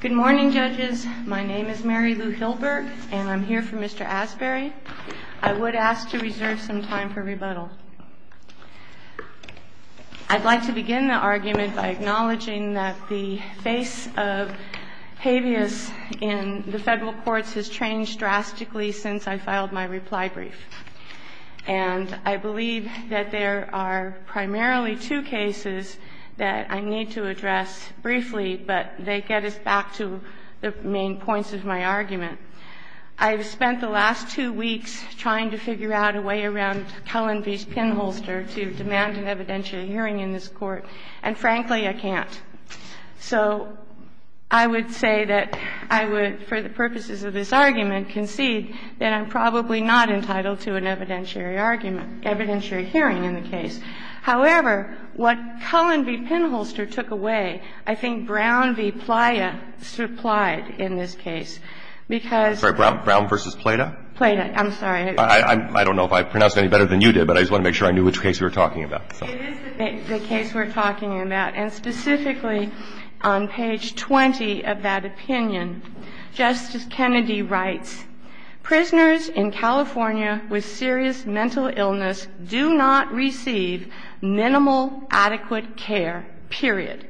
Good morning, judges. My name is Mary Lou Hilberg, and I'm here for Mr. Asberry. I would ask to reserve some time for rebuttal. I'd like to begin the argument by acknowledging that the face of habeas in the federal courts has changed drastically since I filed my reply brief. And I believe that there are primarily two cases that I need to address briefly, but they get us back to the main points of my argument. I've spent the last two weeks trying to figure out a way around Cullen v. Pinholster to demand an evidentiary hearing in this Court, and frankly, I can't. So I would say that I would, for the purposes of this argument, concede that I'm probably not entitled to an evidentiary argument, evidentiary hearing in the case. However, what Cullen v. Pinholster took away, I think Brown v. Playa supplied in this case, because – Brown v. Playa? Playa. I'm sorry. I don't know if I pronounced it any better than you did, but I just want to make sure I knew which case we were talking about. It is the case we're talking about, and specifically on page 20 of that opinion, Justice Kennedy writes, Prisoners in California with serious mental illness do not receive minimal adequate care, period.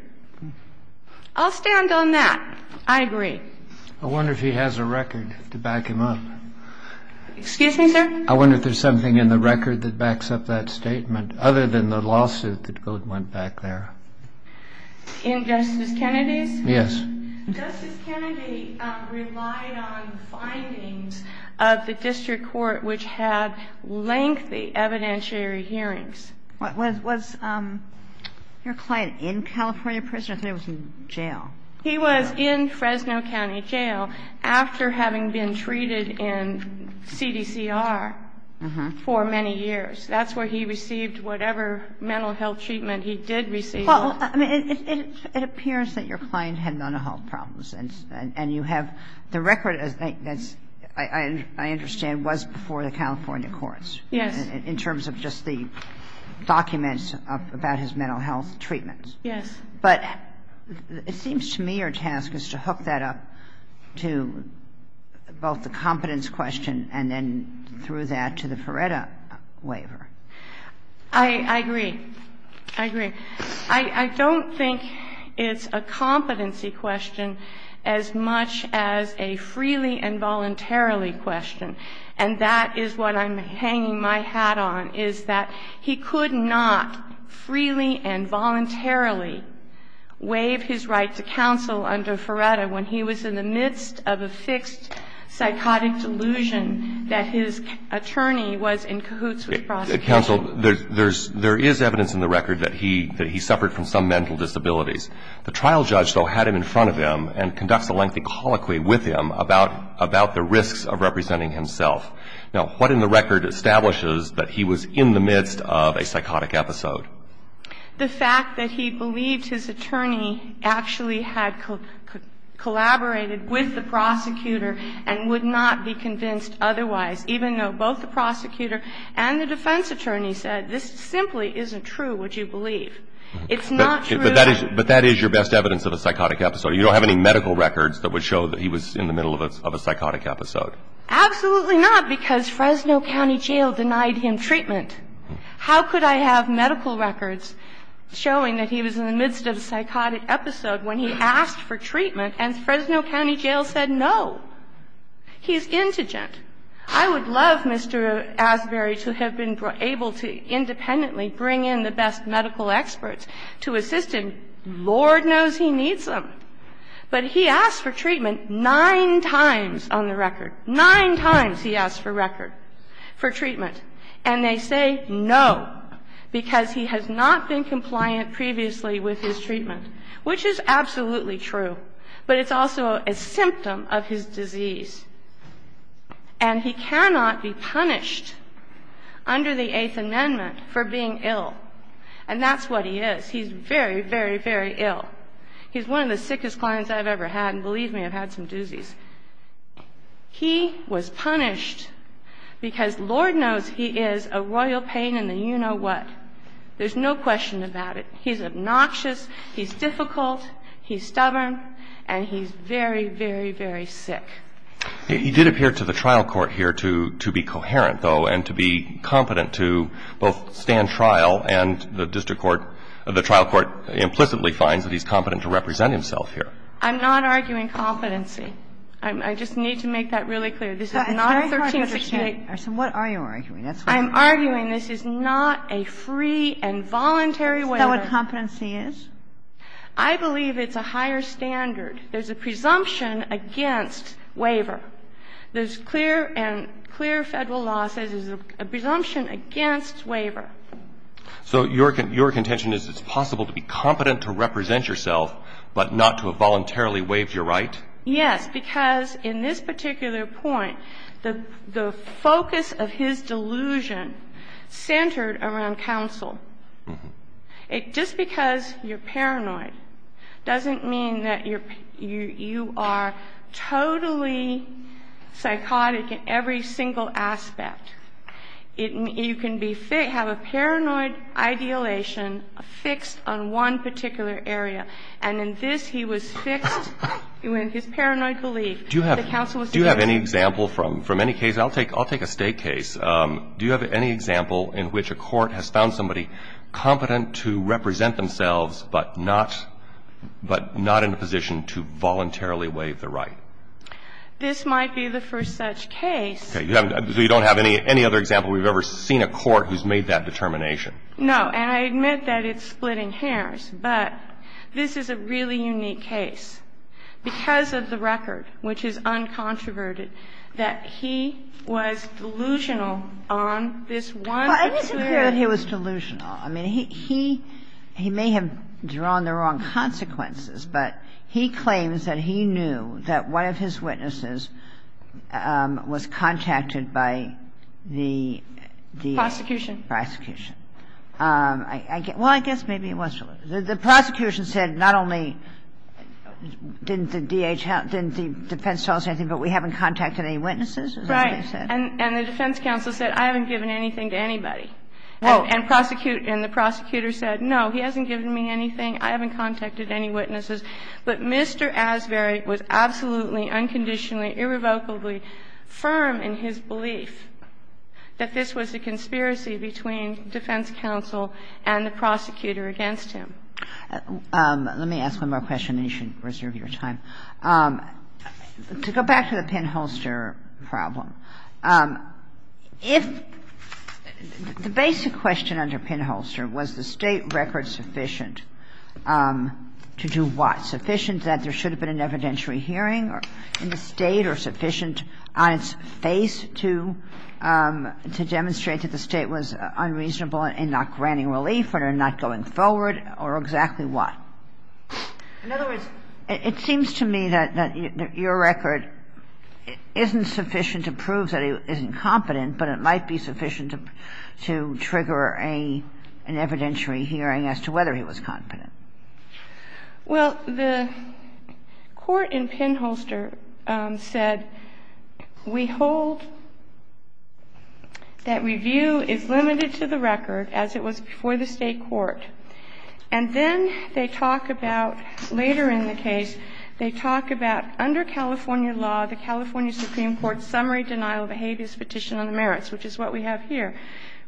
I'll stand on that. I agree. I wonder if he has a record to back him up. Excuse me, sir? I wonder if there's something in the record that backs up that statement, other than the lawsuit that went back there. In Justice Kennedy's? Yes. Justice Kennedy relied on findings of the district court, which had lengthy evidentiary hearings. Was your client in California prison or was he in jail? He was in Fresno County Jail after having been treated in CDCR for many years. That's where he received whatever mental health treatment he did receive. It appears that your client had mental health problems, and you have the record, as I understand, was before the California courts in terms of just the documents about his mental health treatments. Yes. But it seems to me your task is to hook that up to both the competence question and then through that to the Feretta waiver. I agree. I agree. I don't think it's a competency question as much as a freely and voluntarily question, and that is what I'm hanging my hat on, is that he could not freely and voluntarily waive his right to counsel under Feretta when he was in the midst of a fixed psychotic delusion that his attorney was in cahoots with prosecution. Counsel, there is evidence in the record that he suffered from some mental disabilities. The trial judge, though, had him in front of him and conducts a lengthy colloquy with him about the risks of representing himself. Now, what in the record establishes that he was in the midst of a psychotic episode? The fact that he believed his attorney actually had collaborated with the prosecutor and would not be convinced otherwise, even though both the prosecutor and the defense attorney said, this simply isn't true, would you believe. It's not true that he was in the midst of a psychotic episode. But that is your best evidence of a psychotic episode. You don't have any medical records that would show that he was in the middle of a psychotic episode. Absolutely not, because Fresno County Jail denied him treatment. How could I have medical records showing that he was in the midst of a psychotic episode when he asked for treatment and Fresno County Jail said no? He's indigent. I would love Mr. Asbury to have been able to independently bring in the best medical experts to assist him. Lord knows he needs them. But he asked for treatment nine times on the record. Nine times he asked for record, for treatment. And they say no, because he has not been compliant previously with his treatment, which is absolutely true. But it's also a symptom of his disease. And he cannot be punished under the Eighth Amendment for being ill. And that's what he is. He's very, very, very ill. He's one of the sickest clients I've ever had, and believe me, I've had some doozies. He was punished because Lord knows he is a royal pain in the you-know-what. There's no question about it. He's obnoxious, he's difficult, he's stubborn, and he's very, very, very sick. He did appear to the trial court here to be coherent, though, and to be competent to both stand trial and the district court, the trial court implicitly finds that he's competent to represent himself here. I'm not arguing competency. I just need to make that really clear. This is not a 1368. So what are you arguing? I'm arguing this is not a free and voluntary waiver. Is that what competency is? I believe it's a higher standard. There's a presumption against waiver. There's clear and clear Federal law says there's a presumption against waiver. So your contention is it's possible to be competent to represent yourself, but not to have voluntarily waived your right? Yes, because in this particular point, the focus of his delusion centered around counsel. Just because you're paranoid doesn't mean that you are totally psychotic in every single aspect. You can have a paranoid ideolation fixed on one particular area, and in this he was fixed with his paranoid belief that counsel was to be fixed. Do you have any example from any case, I'll take a state case, do you have any example in which a court has found somebody competent to represent themselves, but not in a position to voluntarily waive the right? This might be the first such case. Okay. So you don't have any other example where you've ever seen a court who's made that determination? No. And I admit that it's splitting hairs, but this is a really unique case. Because of the record, which is uncontroverted, that he was delusional on this one particular case. I didn't say that he was delusional. I mean, he may have drawn the wrong consequences, but he claims that he knew that one of his witnesses was contacted by the D.A. Prosecution. Prosecution. Well, I guess maybe he was delusional. The prosecution said not only didn't the D.A. defense tell us anything, but we haven't contacted any witnesses, is that what he said? And the defense counsel said, I haven't given anything to anybody. And the prosecutor said, no, he hasn't given me anything. I haven't contacted any witnesses. But Mr. Asbury was absolutely, unconditionally, irrevocably firm in his belief that this was a conspiracy between defense counsel and the prosecutor against him. Let me ask one more question, and you should reserve your time. To go back to the Penn-Holster problem, if the basic question under Penn-Holster was the State record sufficient to do what? Sufficient that there should have been an evidentiary hearing in the State, or sufficient on its face to demonstrate that the State was unreasonable in not granting relief or not going forward, or exactly what? In other words, it seems to me that your record isn't sufficient to prove that he isn't competent, but it might be sufficient to trigger an evidentiary hearing as to whether he was competent. Well, the court in Penn-Holster said, we hold that review is limited to the record as it was before the State court. And then they talk about, later in the case, they talk about under California law, the California Supreme Court's summary denial of a habeas petition on the merits, which is what we have here,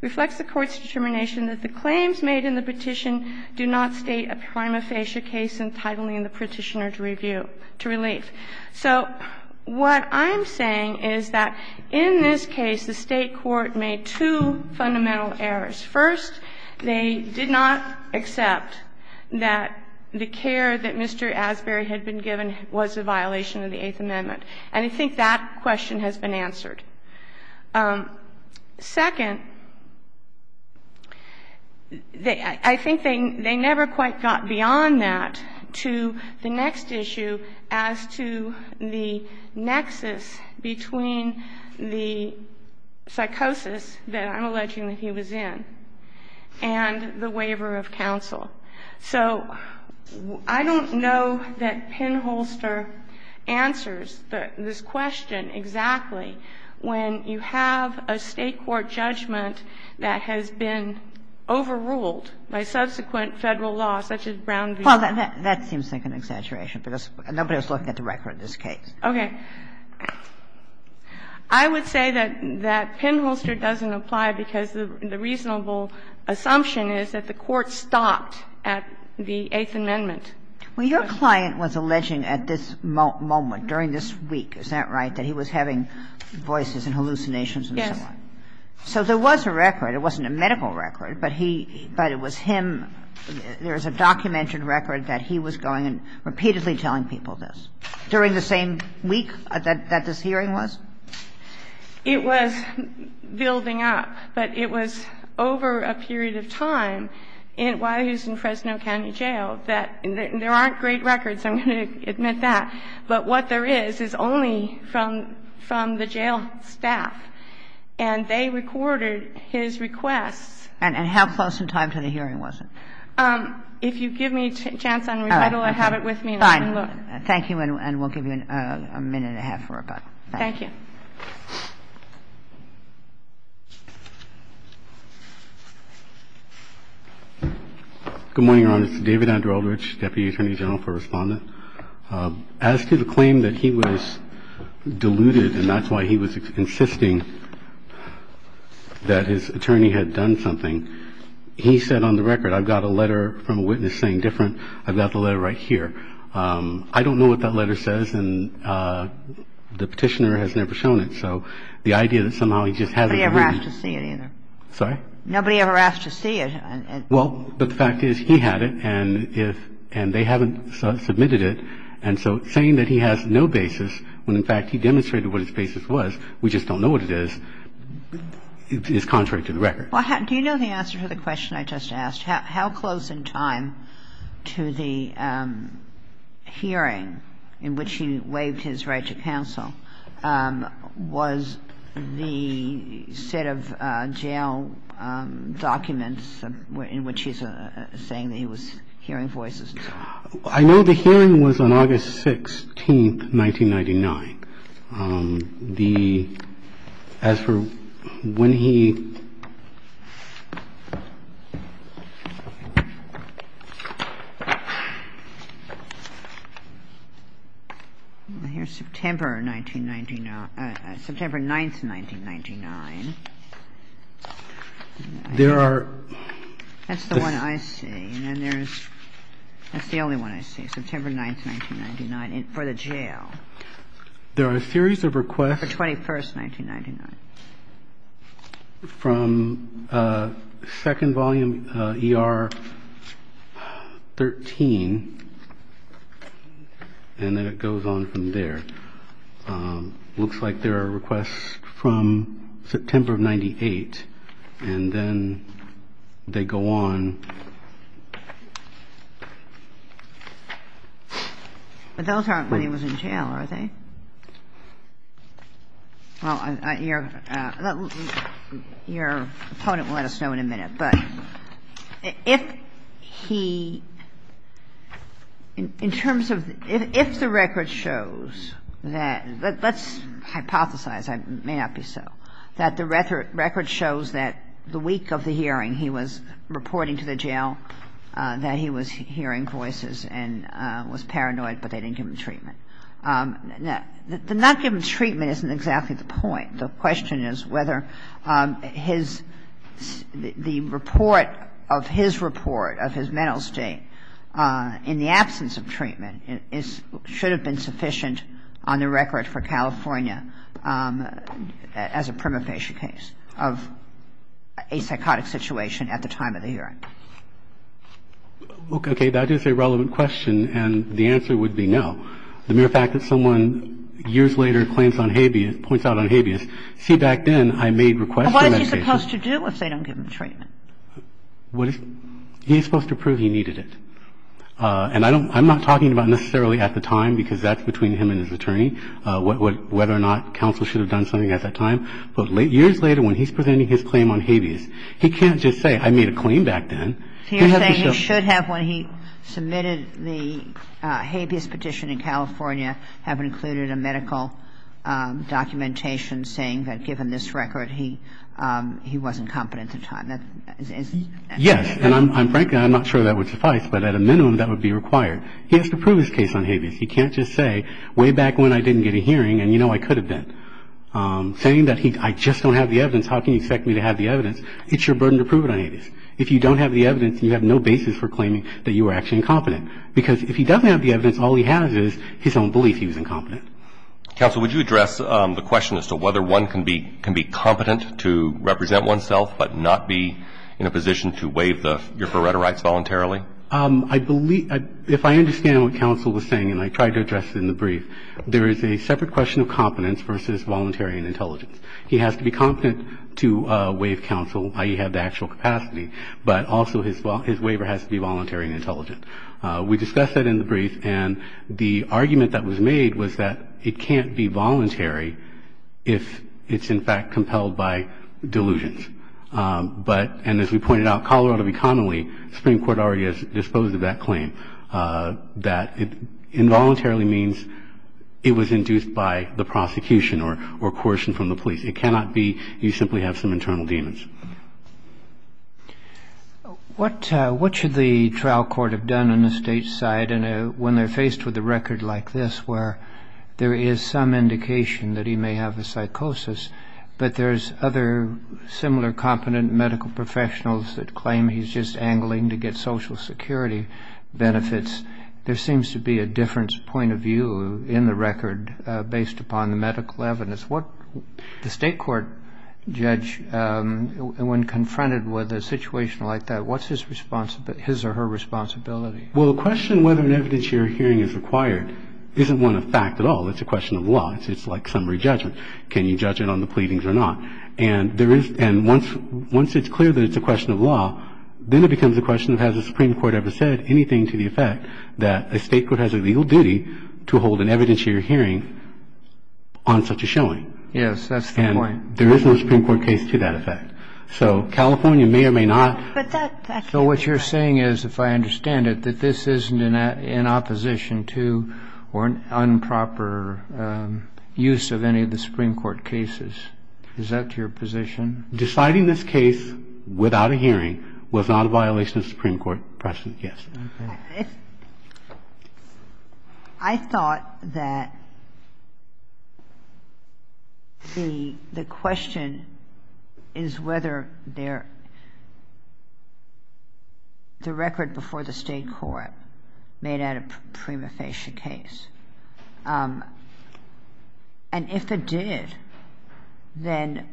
reflects the Court's determination that the claims made in the petition do not state a prima facie case entitling the Petitioner to review, to relief. So what I'm saying is that in this case, the State court made two fundamental errors. First, they did not accept that the care that Mr. Asbury had been given was a violation of the Eighth Amendment. And I think that question has been answered. Second, I think they never quite got beyond that to the next issue as to the nexus between the psychosis that I'm alleging that he was in and the waiver of counsel. So I don't know that Penn-Holster answers this question exactly when you have a State court judgment that has been overruled by subsequent Federal law, such as Brown v. Lowe. Kagan. Well, that seems like an exaggeration, because nobody was looking at the record in this case. Okay. I would say that Penn-Holster doesn't apply because the reasonable assumption is that the Court stopped at the Eighth Amendment. Well, your client was alleging at this moment, during this week, is that right, that he was having voices and hallucinations and so on? Yes. So there was a record. It wasn't a medical record, but he – but it was him. There is a documented record that he was going and repeatedly telling people this during the same week that this hearing was? It was building up, but it was over a period of time while he was in Fresno County Jail that – and there aren't great records, I'm going to admit that, but what there is is only from the jail staff, and they recorded his requests. And how close in time to the hearing was it? If you give me a chance on re-title, I have it with me. Fine. Thank you, and we'll give you a minute and a half for rebuttal. Thank you. Good morning, Your Honor. It's David Andrelridge, Deputy Attorney General, for Respondent. As to the claim that he was deluded, and that's why he was insisting that his attorney had done something, he said on the record, I've got a letter from a witness saying different, I've got the letter right here. I don't know what that letter says, and the petitioner has never shown it, so the idea that somehow he just has it written – Nobody ever asked to see it, either. Sorry? Nobody ever asked to see it. Well, but the fact is he had it, and if – and they haven't submitted it, and so saying that he has no basis, when in fact he demonstrated what his basis was, we just don't know what it is, is contrary to the record. Well, do you know the answer to the question I just asked? How close in time to the hearing in which he waived his right to counsel was the set of jail documents in which he's saying that he was hearing voices? I know the hearing was on August 16, 1999. The – as for when he – Well, here's September 1999 – September 9, 1999. There are – That's the one I see, and then there's – that's the only one I see, September 9, 1999, for the jail. There are a series of requests – For 21st, 1999. From second volume ER 13, and then it goes on from there. Looks like there are requests from September of 98, and then they go on – But those aren't when he was in jail, are they? Well, your opponent will let us know in a minute, but if he – in terms of – if the record shows that – let's hypothesize, it may not be so – that the record shows that the week of the hearing he was reporting to the jail that he was hearing voices and was paranoid, but they didn't give him treatment. The not giving treatment isn't exactly the point. The question is whether his – the report of his report of his mental state in the absence of treatment is – should have been sufficient on the record for California as a prima practice. And I'm not talking about necessarily at the time, because that's between him and his attorney, whether or not counsel should have done something at that time, but years ago, when he submitted his claim on habeas, he can't just say I made a claim back then. He has to show – So you're saying he should have, when he submitted the habeas petition in California, have included a medical documentation saying that given this record, he wasn't competent at the time. Yes. And I'm – frankly, I'm not sure that would suffice, but at a minimum, that would be required. He has to prove his case on habeas. He can't just say way back when I didn't get a hearing, and you know I could have been. Saying that he – I just don't have the evidence, how can you expect me to have the evidence? It's your burden to prove it on habeas. If you don't have the evidence, you have no basis for claiming that you were actually incompetent. Because if he doesn't have the evidence, all he has is his own belief he was incompetent. Counsel, would you address the question as to whether one can be – can be competent to represent oneself, but not be in a position to waive the – your FORETA rights voluntarily? I believe – if I understand what counsel was saying, and I tried to address it in the brief, there is a separate question of competence versus voluntary and intelligence. He has to be competent to waive counsel, i.e., have the actual capacity, but also his waiver has to be voluntary and intelligent. We discussed that in the brief, and the argument that was made was that it can't be voluntary if it's in fact compelled by delusions. But – and as we pointed out, Colorado commonly, the Supreme Court already has disposed of that claim, that it involuntarily means it was induced by the prosecution or coercion from the police. It cannot be you simply have some internal demons. What should the trial court have done on the State's side when they're faced with a record like this where there is some indication that he may have a psychosis, but there's other similar competent medical professionals that claim he's just angling to get social security benefits? There seems to be a different point of view in the record based upon the medical evidence. What – the State court judge, when confronted with a situation like that, what's his responsibility – his or her responsibility? Well, the question whether an evidence you're hearing is required isn't one of fact at all. It's a question of law. It's like summary judgment. Can you judge it on the pleadings or not? And there is – and once it's clear that it's a question of law, then it becomes a question of has the Supreme Court ever said anything to the effect that a State court has a legal duty to hold an evidence you're hearing on such a showing? Yes, that's the point. And there is no Supreme Court case to that effect. So California may or may not – But that – So what you're saying is, if I understand it, that this isn't in opposition to or an improper use of any of the Supreme Court cases. Is that your position? Deciding this case without a hearing was not a violation of the Supreme Court precedent, yes. Okay. I thought that the question is whether there – the record before the State court made that a prima facie case. And if it did, then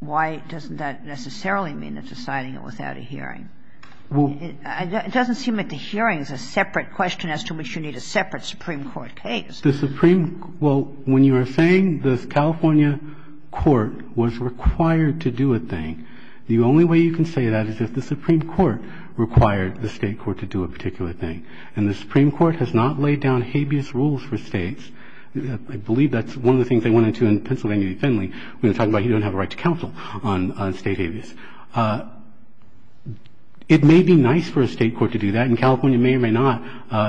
why doesn't that necessarily mean that deciding it without a hearing? It doesn't seem like the hearing is a separate question as to which you need a separate Supreme Court case. The Supreme – well, when you are saying the California court was required to do a thing, the only way you can say that is if the Supreme Court required the State court to do a particular thing. And the Supreme Court has not laid down habeas rules for States. I believe that's one of the things they went into in Pennsylvania v. Finley when they were talking about you don't have a right to counsel on State habeas. It may be nice for a State court to do that. And California may or may not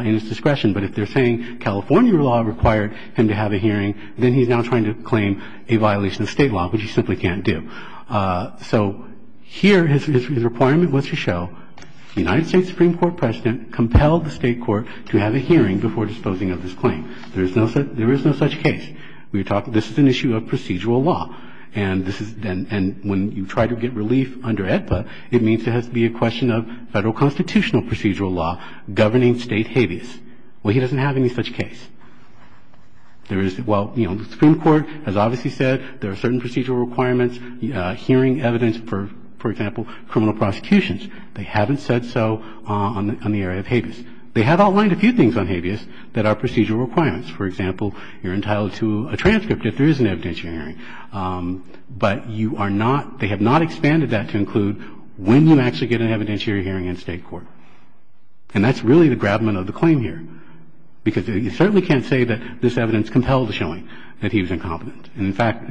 in its discretion. But if they're saying California law required him to have a hearing, then he's now trying to claim a violation of State law, which he simply can't do. So here his requirement was to show the United States Supreme Court president compelled the State court to have a hearing before disposing of this claim. There is no such case. This is an issue of procedural law. And when you try to get relief under AEDPA, it means there has to be a question of Federal constitutional procedural law governing State habeas. Well, he doesn't have any such case. There is – well, you know, the Supreme Court has obviously said there are certain procedural requirements. Hearing evidence, for example, criminal prosecutions, they haven't said so on the area of habeas. They have outlined a few things on habeas that are procedural requirements. For example, you're entitled to a transcript if there is an evidentiary hearing. But you are not – they have not expanded that to include when you actually get an evidentiary hearing in State court. And that's really the grabment of the claim here. Because you certainly can't say that this evidence compelled the showing that he was incompetent. In fact,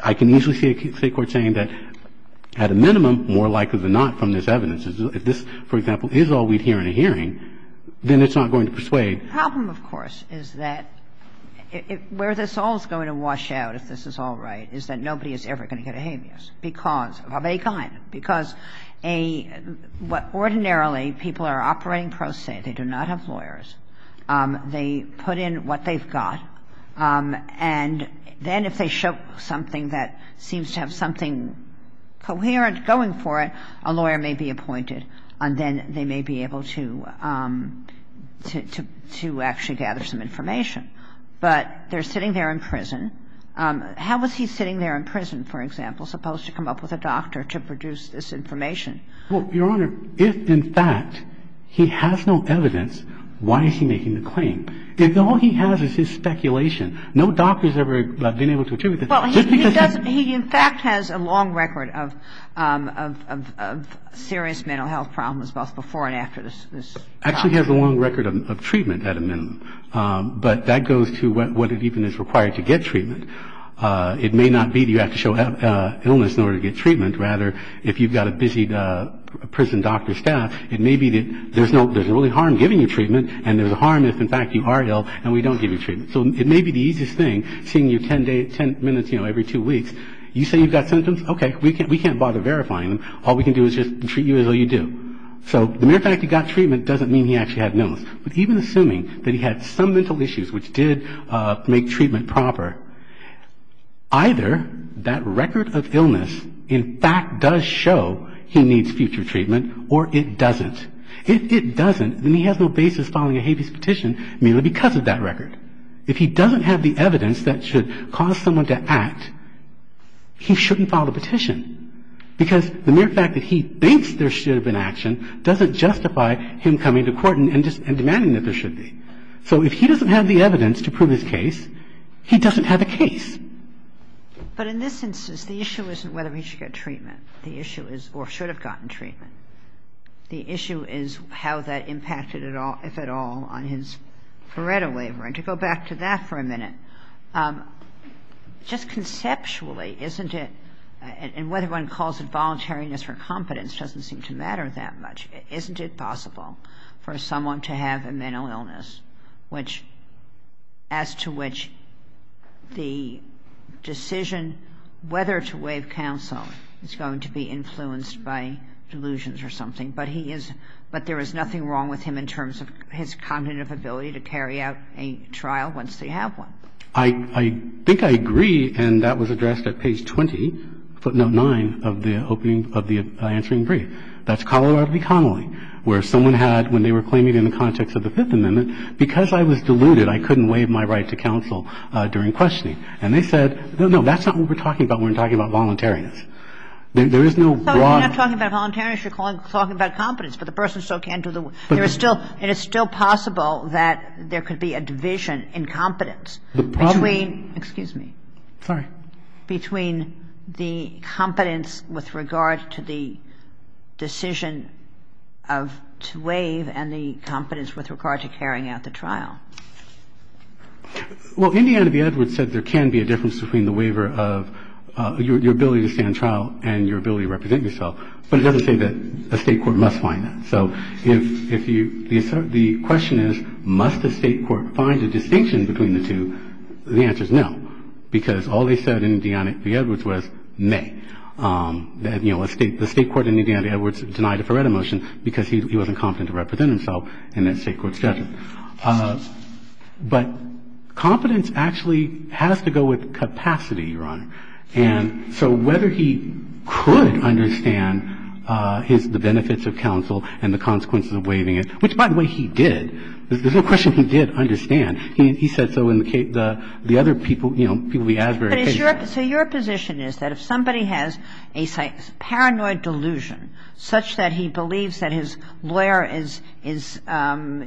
I can easily see a State court saying that, at a minimum, more likely than not from this evidence, if this, for example, is all we'd hear in a hearing, then it's not going to persuade. The problem, of course, is that where this all is going to wash out, if this is all right, is that nobody is ever going to get a habeas because of any kind. Because a – ordinarily, people are operating pro se. They do not have lawyers. They put in what they've got. And then if they show something that seems to have something coherent going for it, a lawyer may be appointed. And then they may be able to – to actually gather some information. But they're sitting there in prison. How was he sitting there in prison, for example, supposed to come up with a doctor to produce this information? Well, Your Honor, if, in fact, he has no evidence, why is he making the claim? All he has is his speculation. No doctor has ever been able to attribute that. Just because he's – Well, he doesn't – he, in fact, has a long record of serious mental health problems both before and after this trial. Actually, he has a long record of treatment, at a minimum. But that goes to what even is required to get treatment. It may not be that you have to show illness in order to get treatment. Rather, if you've got a busy prison doctor staff, it may be that there's no – there's a harm if, in fact, you are ill and we don't give you treatment. So it may be the easiest thing, seeing you 10 minutes, you know, every two weeks. You say you've got symptoms? Okay. We can't bother verifying them. All we can do is just treat you as though you do. So the mere fact he got treatment doesn't mean he actually had illness. But even assuming that he had some mental issues which did make treatment proper, either that record of illness, in fact, does show he needs future treatment or it doesn't. If it doesn't, then he has no basis filing a habeas petition merely because of that record. If he doesn't have the evidence that should cause someone to act, he shouldn't file a petition. Because the mere fact that he thinks there should have been action doesn't justify him coming to court and demanding that there should be. So if he doesn't have the evidence to prove his case, he doesn't have a case. But in this instance, the issue isn't whether he should get treatment. The issue is or should have gotten treatment. The issue is how that impacted, if at all, on his Pareto waiver. And to go back to that for a minute, just conceptually isn't it and whether one calls it voluntariness or competence doesn't seem to matter that much. Isn't it possible for someone to have a mental illness as to which the decision whether to waive counsel is going to be influenced by delusions or something? But there is nothing wrong with him in terms of his cognitive ability to carry out a trial once they have one. I think I agree, and that was addressed at page 20, footnote 9 of the opening of the answering brief. That's Colorado v. Connolly, where someone had, when they were claiming in the context of the Fifth Amendment, because I was deluded, I couldn't waive my right to counsel during questioning. And they said, no, no, that's not what we're talking about when we're talking about voluntariness. There is no wrong. Kagan. So you're not talking about voluntariness, you're talking about competence, but the person still can't do the waiver. And it's still possible that there could be a division in competence between the competence with regard to the decision to waive and the competence with regard to carrying out the trial. Well, Indiana v. Edwards said there can be a difference between the waiver of your ability to stand trial and your ability to represent yourself, but it doesn't say that a State court must find that. So if you – the question is, must a State court find a distinction between the two? The answer is no, because all they said in Indiana v. Edwards was may. You know, the State court in Indiana v. Edwards denied a Feretta motion because he wasn't confident to represent himself in that State court's judgment. But competence actually has to go with capacity, Your Honor. And so whether he could understand the benefits of counsel and the consequences of waiving it, which, by the way, he did. There's no question he did understand. He said so in the other people, you know, people we advertised. So your position is that if somebody has a paranoid delusion such that he believes that his lawyer is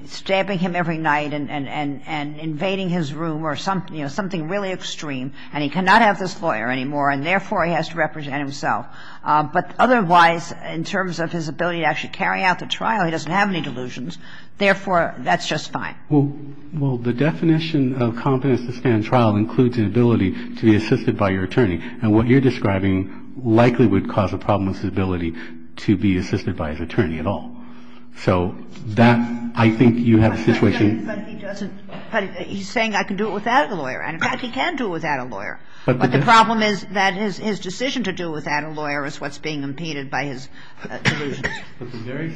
stabbing him every night and invading his room or something really extreme, and he cannot have this lawyer anymore, and therefore he has to represent himself. But otherwise, in terms of his ability to actually carry out the trial, he doesn't have any delusions. Therefore, that's just fine. Well, the definition of competence to stand trial includes an ability to be assisted by your attorney. And what you're describing likely would cause a problem with his ability to be assisted by his attorney at all. So that, I think, you have a situation. But he doesn't. He's saying I can do it without a lawyer. And, in fact, he can do it without a lawyer. But the problem is that his decision to do it without a lawyer is what's being impeded by his delusions. But the very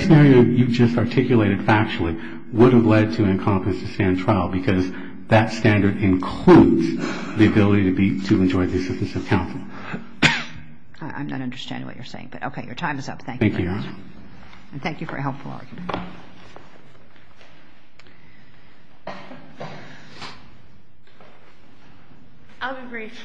scenario you just articulated factually would have led to an incompetence to stand trial because that standard includes the ability to enjoy the assistance of counsel. I'm not understanding what you're saying. But, okay, your time is up. Thank you, Your Honor. Thank you. And thank you for a helpful argument. I'll be brief.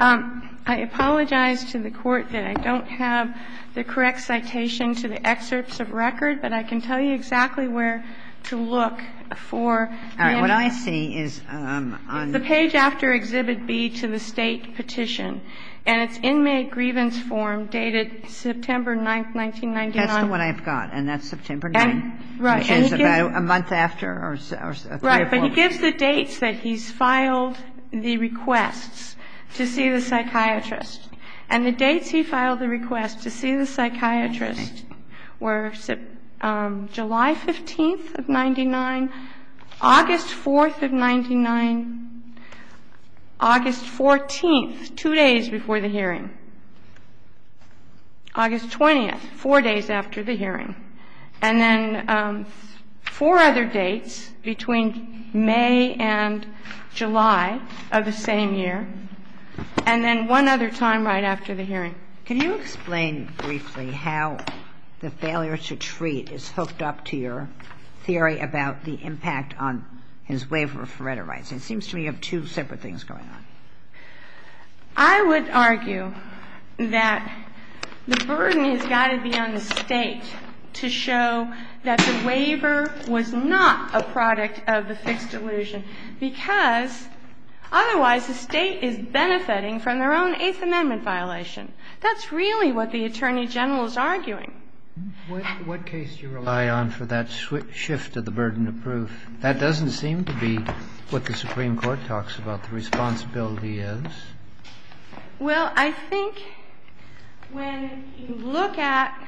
I apologize to the Court that I don't have the correct citation to the excerpts of record, but I can tell you exactly where to look for the information. All right. What I see is on the page after Exhibit B to the State Petition. And it's inmate grievance form dated September 9th, 1999. That's the one I've got. And that's September 9th, which is about a month after or three or four months. Right. But he gives the dates that he's filed the requests to see the psychiatrist. And the dates he filed the request to see the psychiatrist were July 15th of 1999, August 4th of 1999, August 14th, two days before the hearing, August 20th, four days after the hearing, and then four other dates between May and July of the same year, and then one other time right after the hearing. So can you explain briefly how the failure to treat is hooked up to your theory about the impact on his waiver of hereditary rights? It seems to me you have two separate things going on. I would argue that the burden has got to be on the State to show that the waiver was not a product of the fixed delusion, because otherwise the State is benefiting from their own Eighth Amendment violation. That's really what the Attorney General is arguing. What case do you rely on for that shift of the burden of proof? That doesn't seem to be what the Supreme Court talks about, the responsibility is. Well, I think when you look at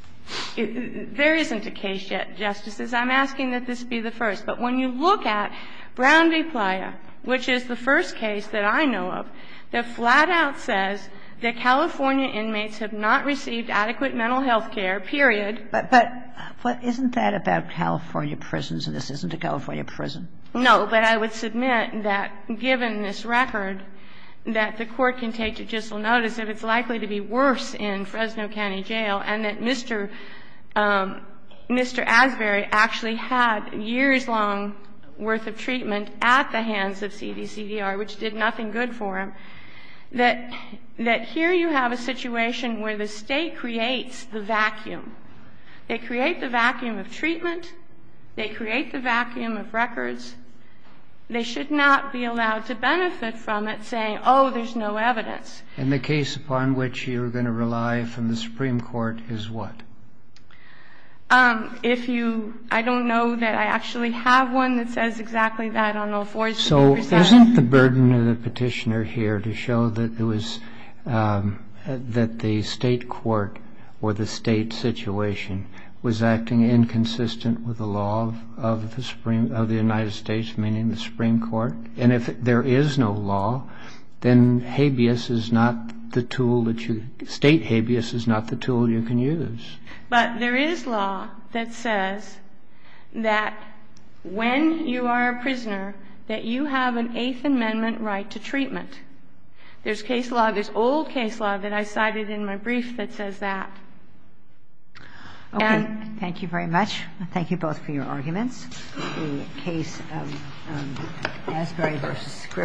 — there isn't a case yet, Justices. I'm asking that this be the first. But when you look at Brown v. Playa, which is the first case that I know of, that flat out says that California inmates have not received adequate mental health care, period. But isn't that about California prisons and this isn't a California prison? No, but I would submit that, given this record, that the Court can take judicial notice that it's likely to be worse in Fresno County Jail and that Mr. Asbury actually had years-long worth of treatment at the hands of CDCDR, which did nothing good for him, that here you have a situation where the State creates the vacuum. They create the vacuum of treatment. They create the vacuum of records. They should not be allowed to benefit from it saying, oh, there's no evidence. And the case upon which you're going to rely from the Supreme Court is what? If you — I don't know that I actually have one that says exactly that on all fours. So isn't the burden of the petitioner here to show that it was — that the State court or the State situation was acting inconsistent with the law of the United States, meaning the Supreme Court? And if there is no law, then habeas is not the tool that you — State habeas is not the tool you can use. But there is law that says that when you are a prisoner, that you have an Eighth Amendment right to treatment. There's case law, there's old case law that I cited in my brief that says that. Okay. Thank you very much. Thank you both for your arguments. The case of Asbury v. Griffin.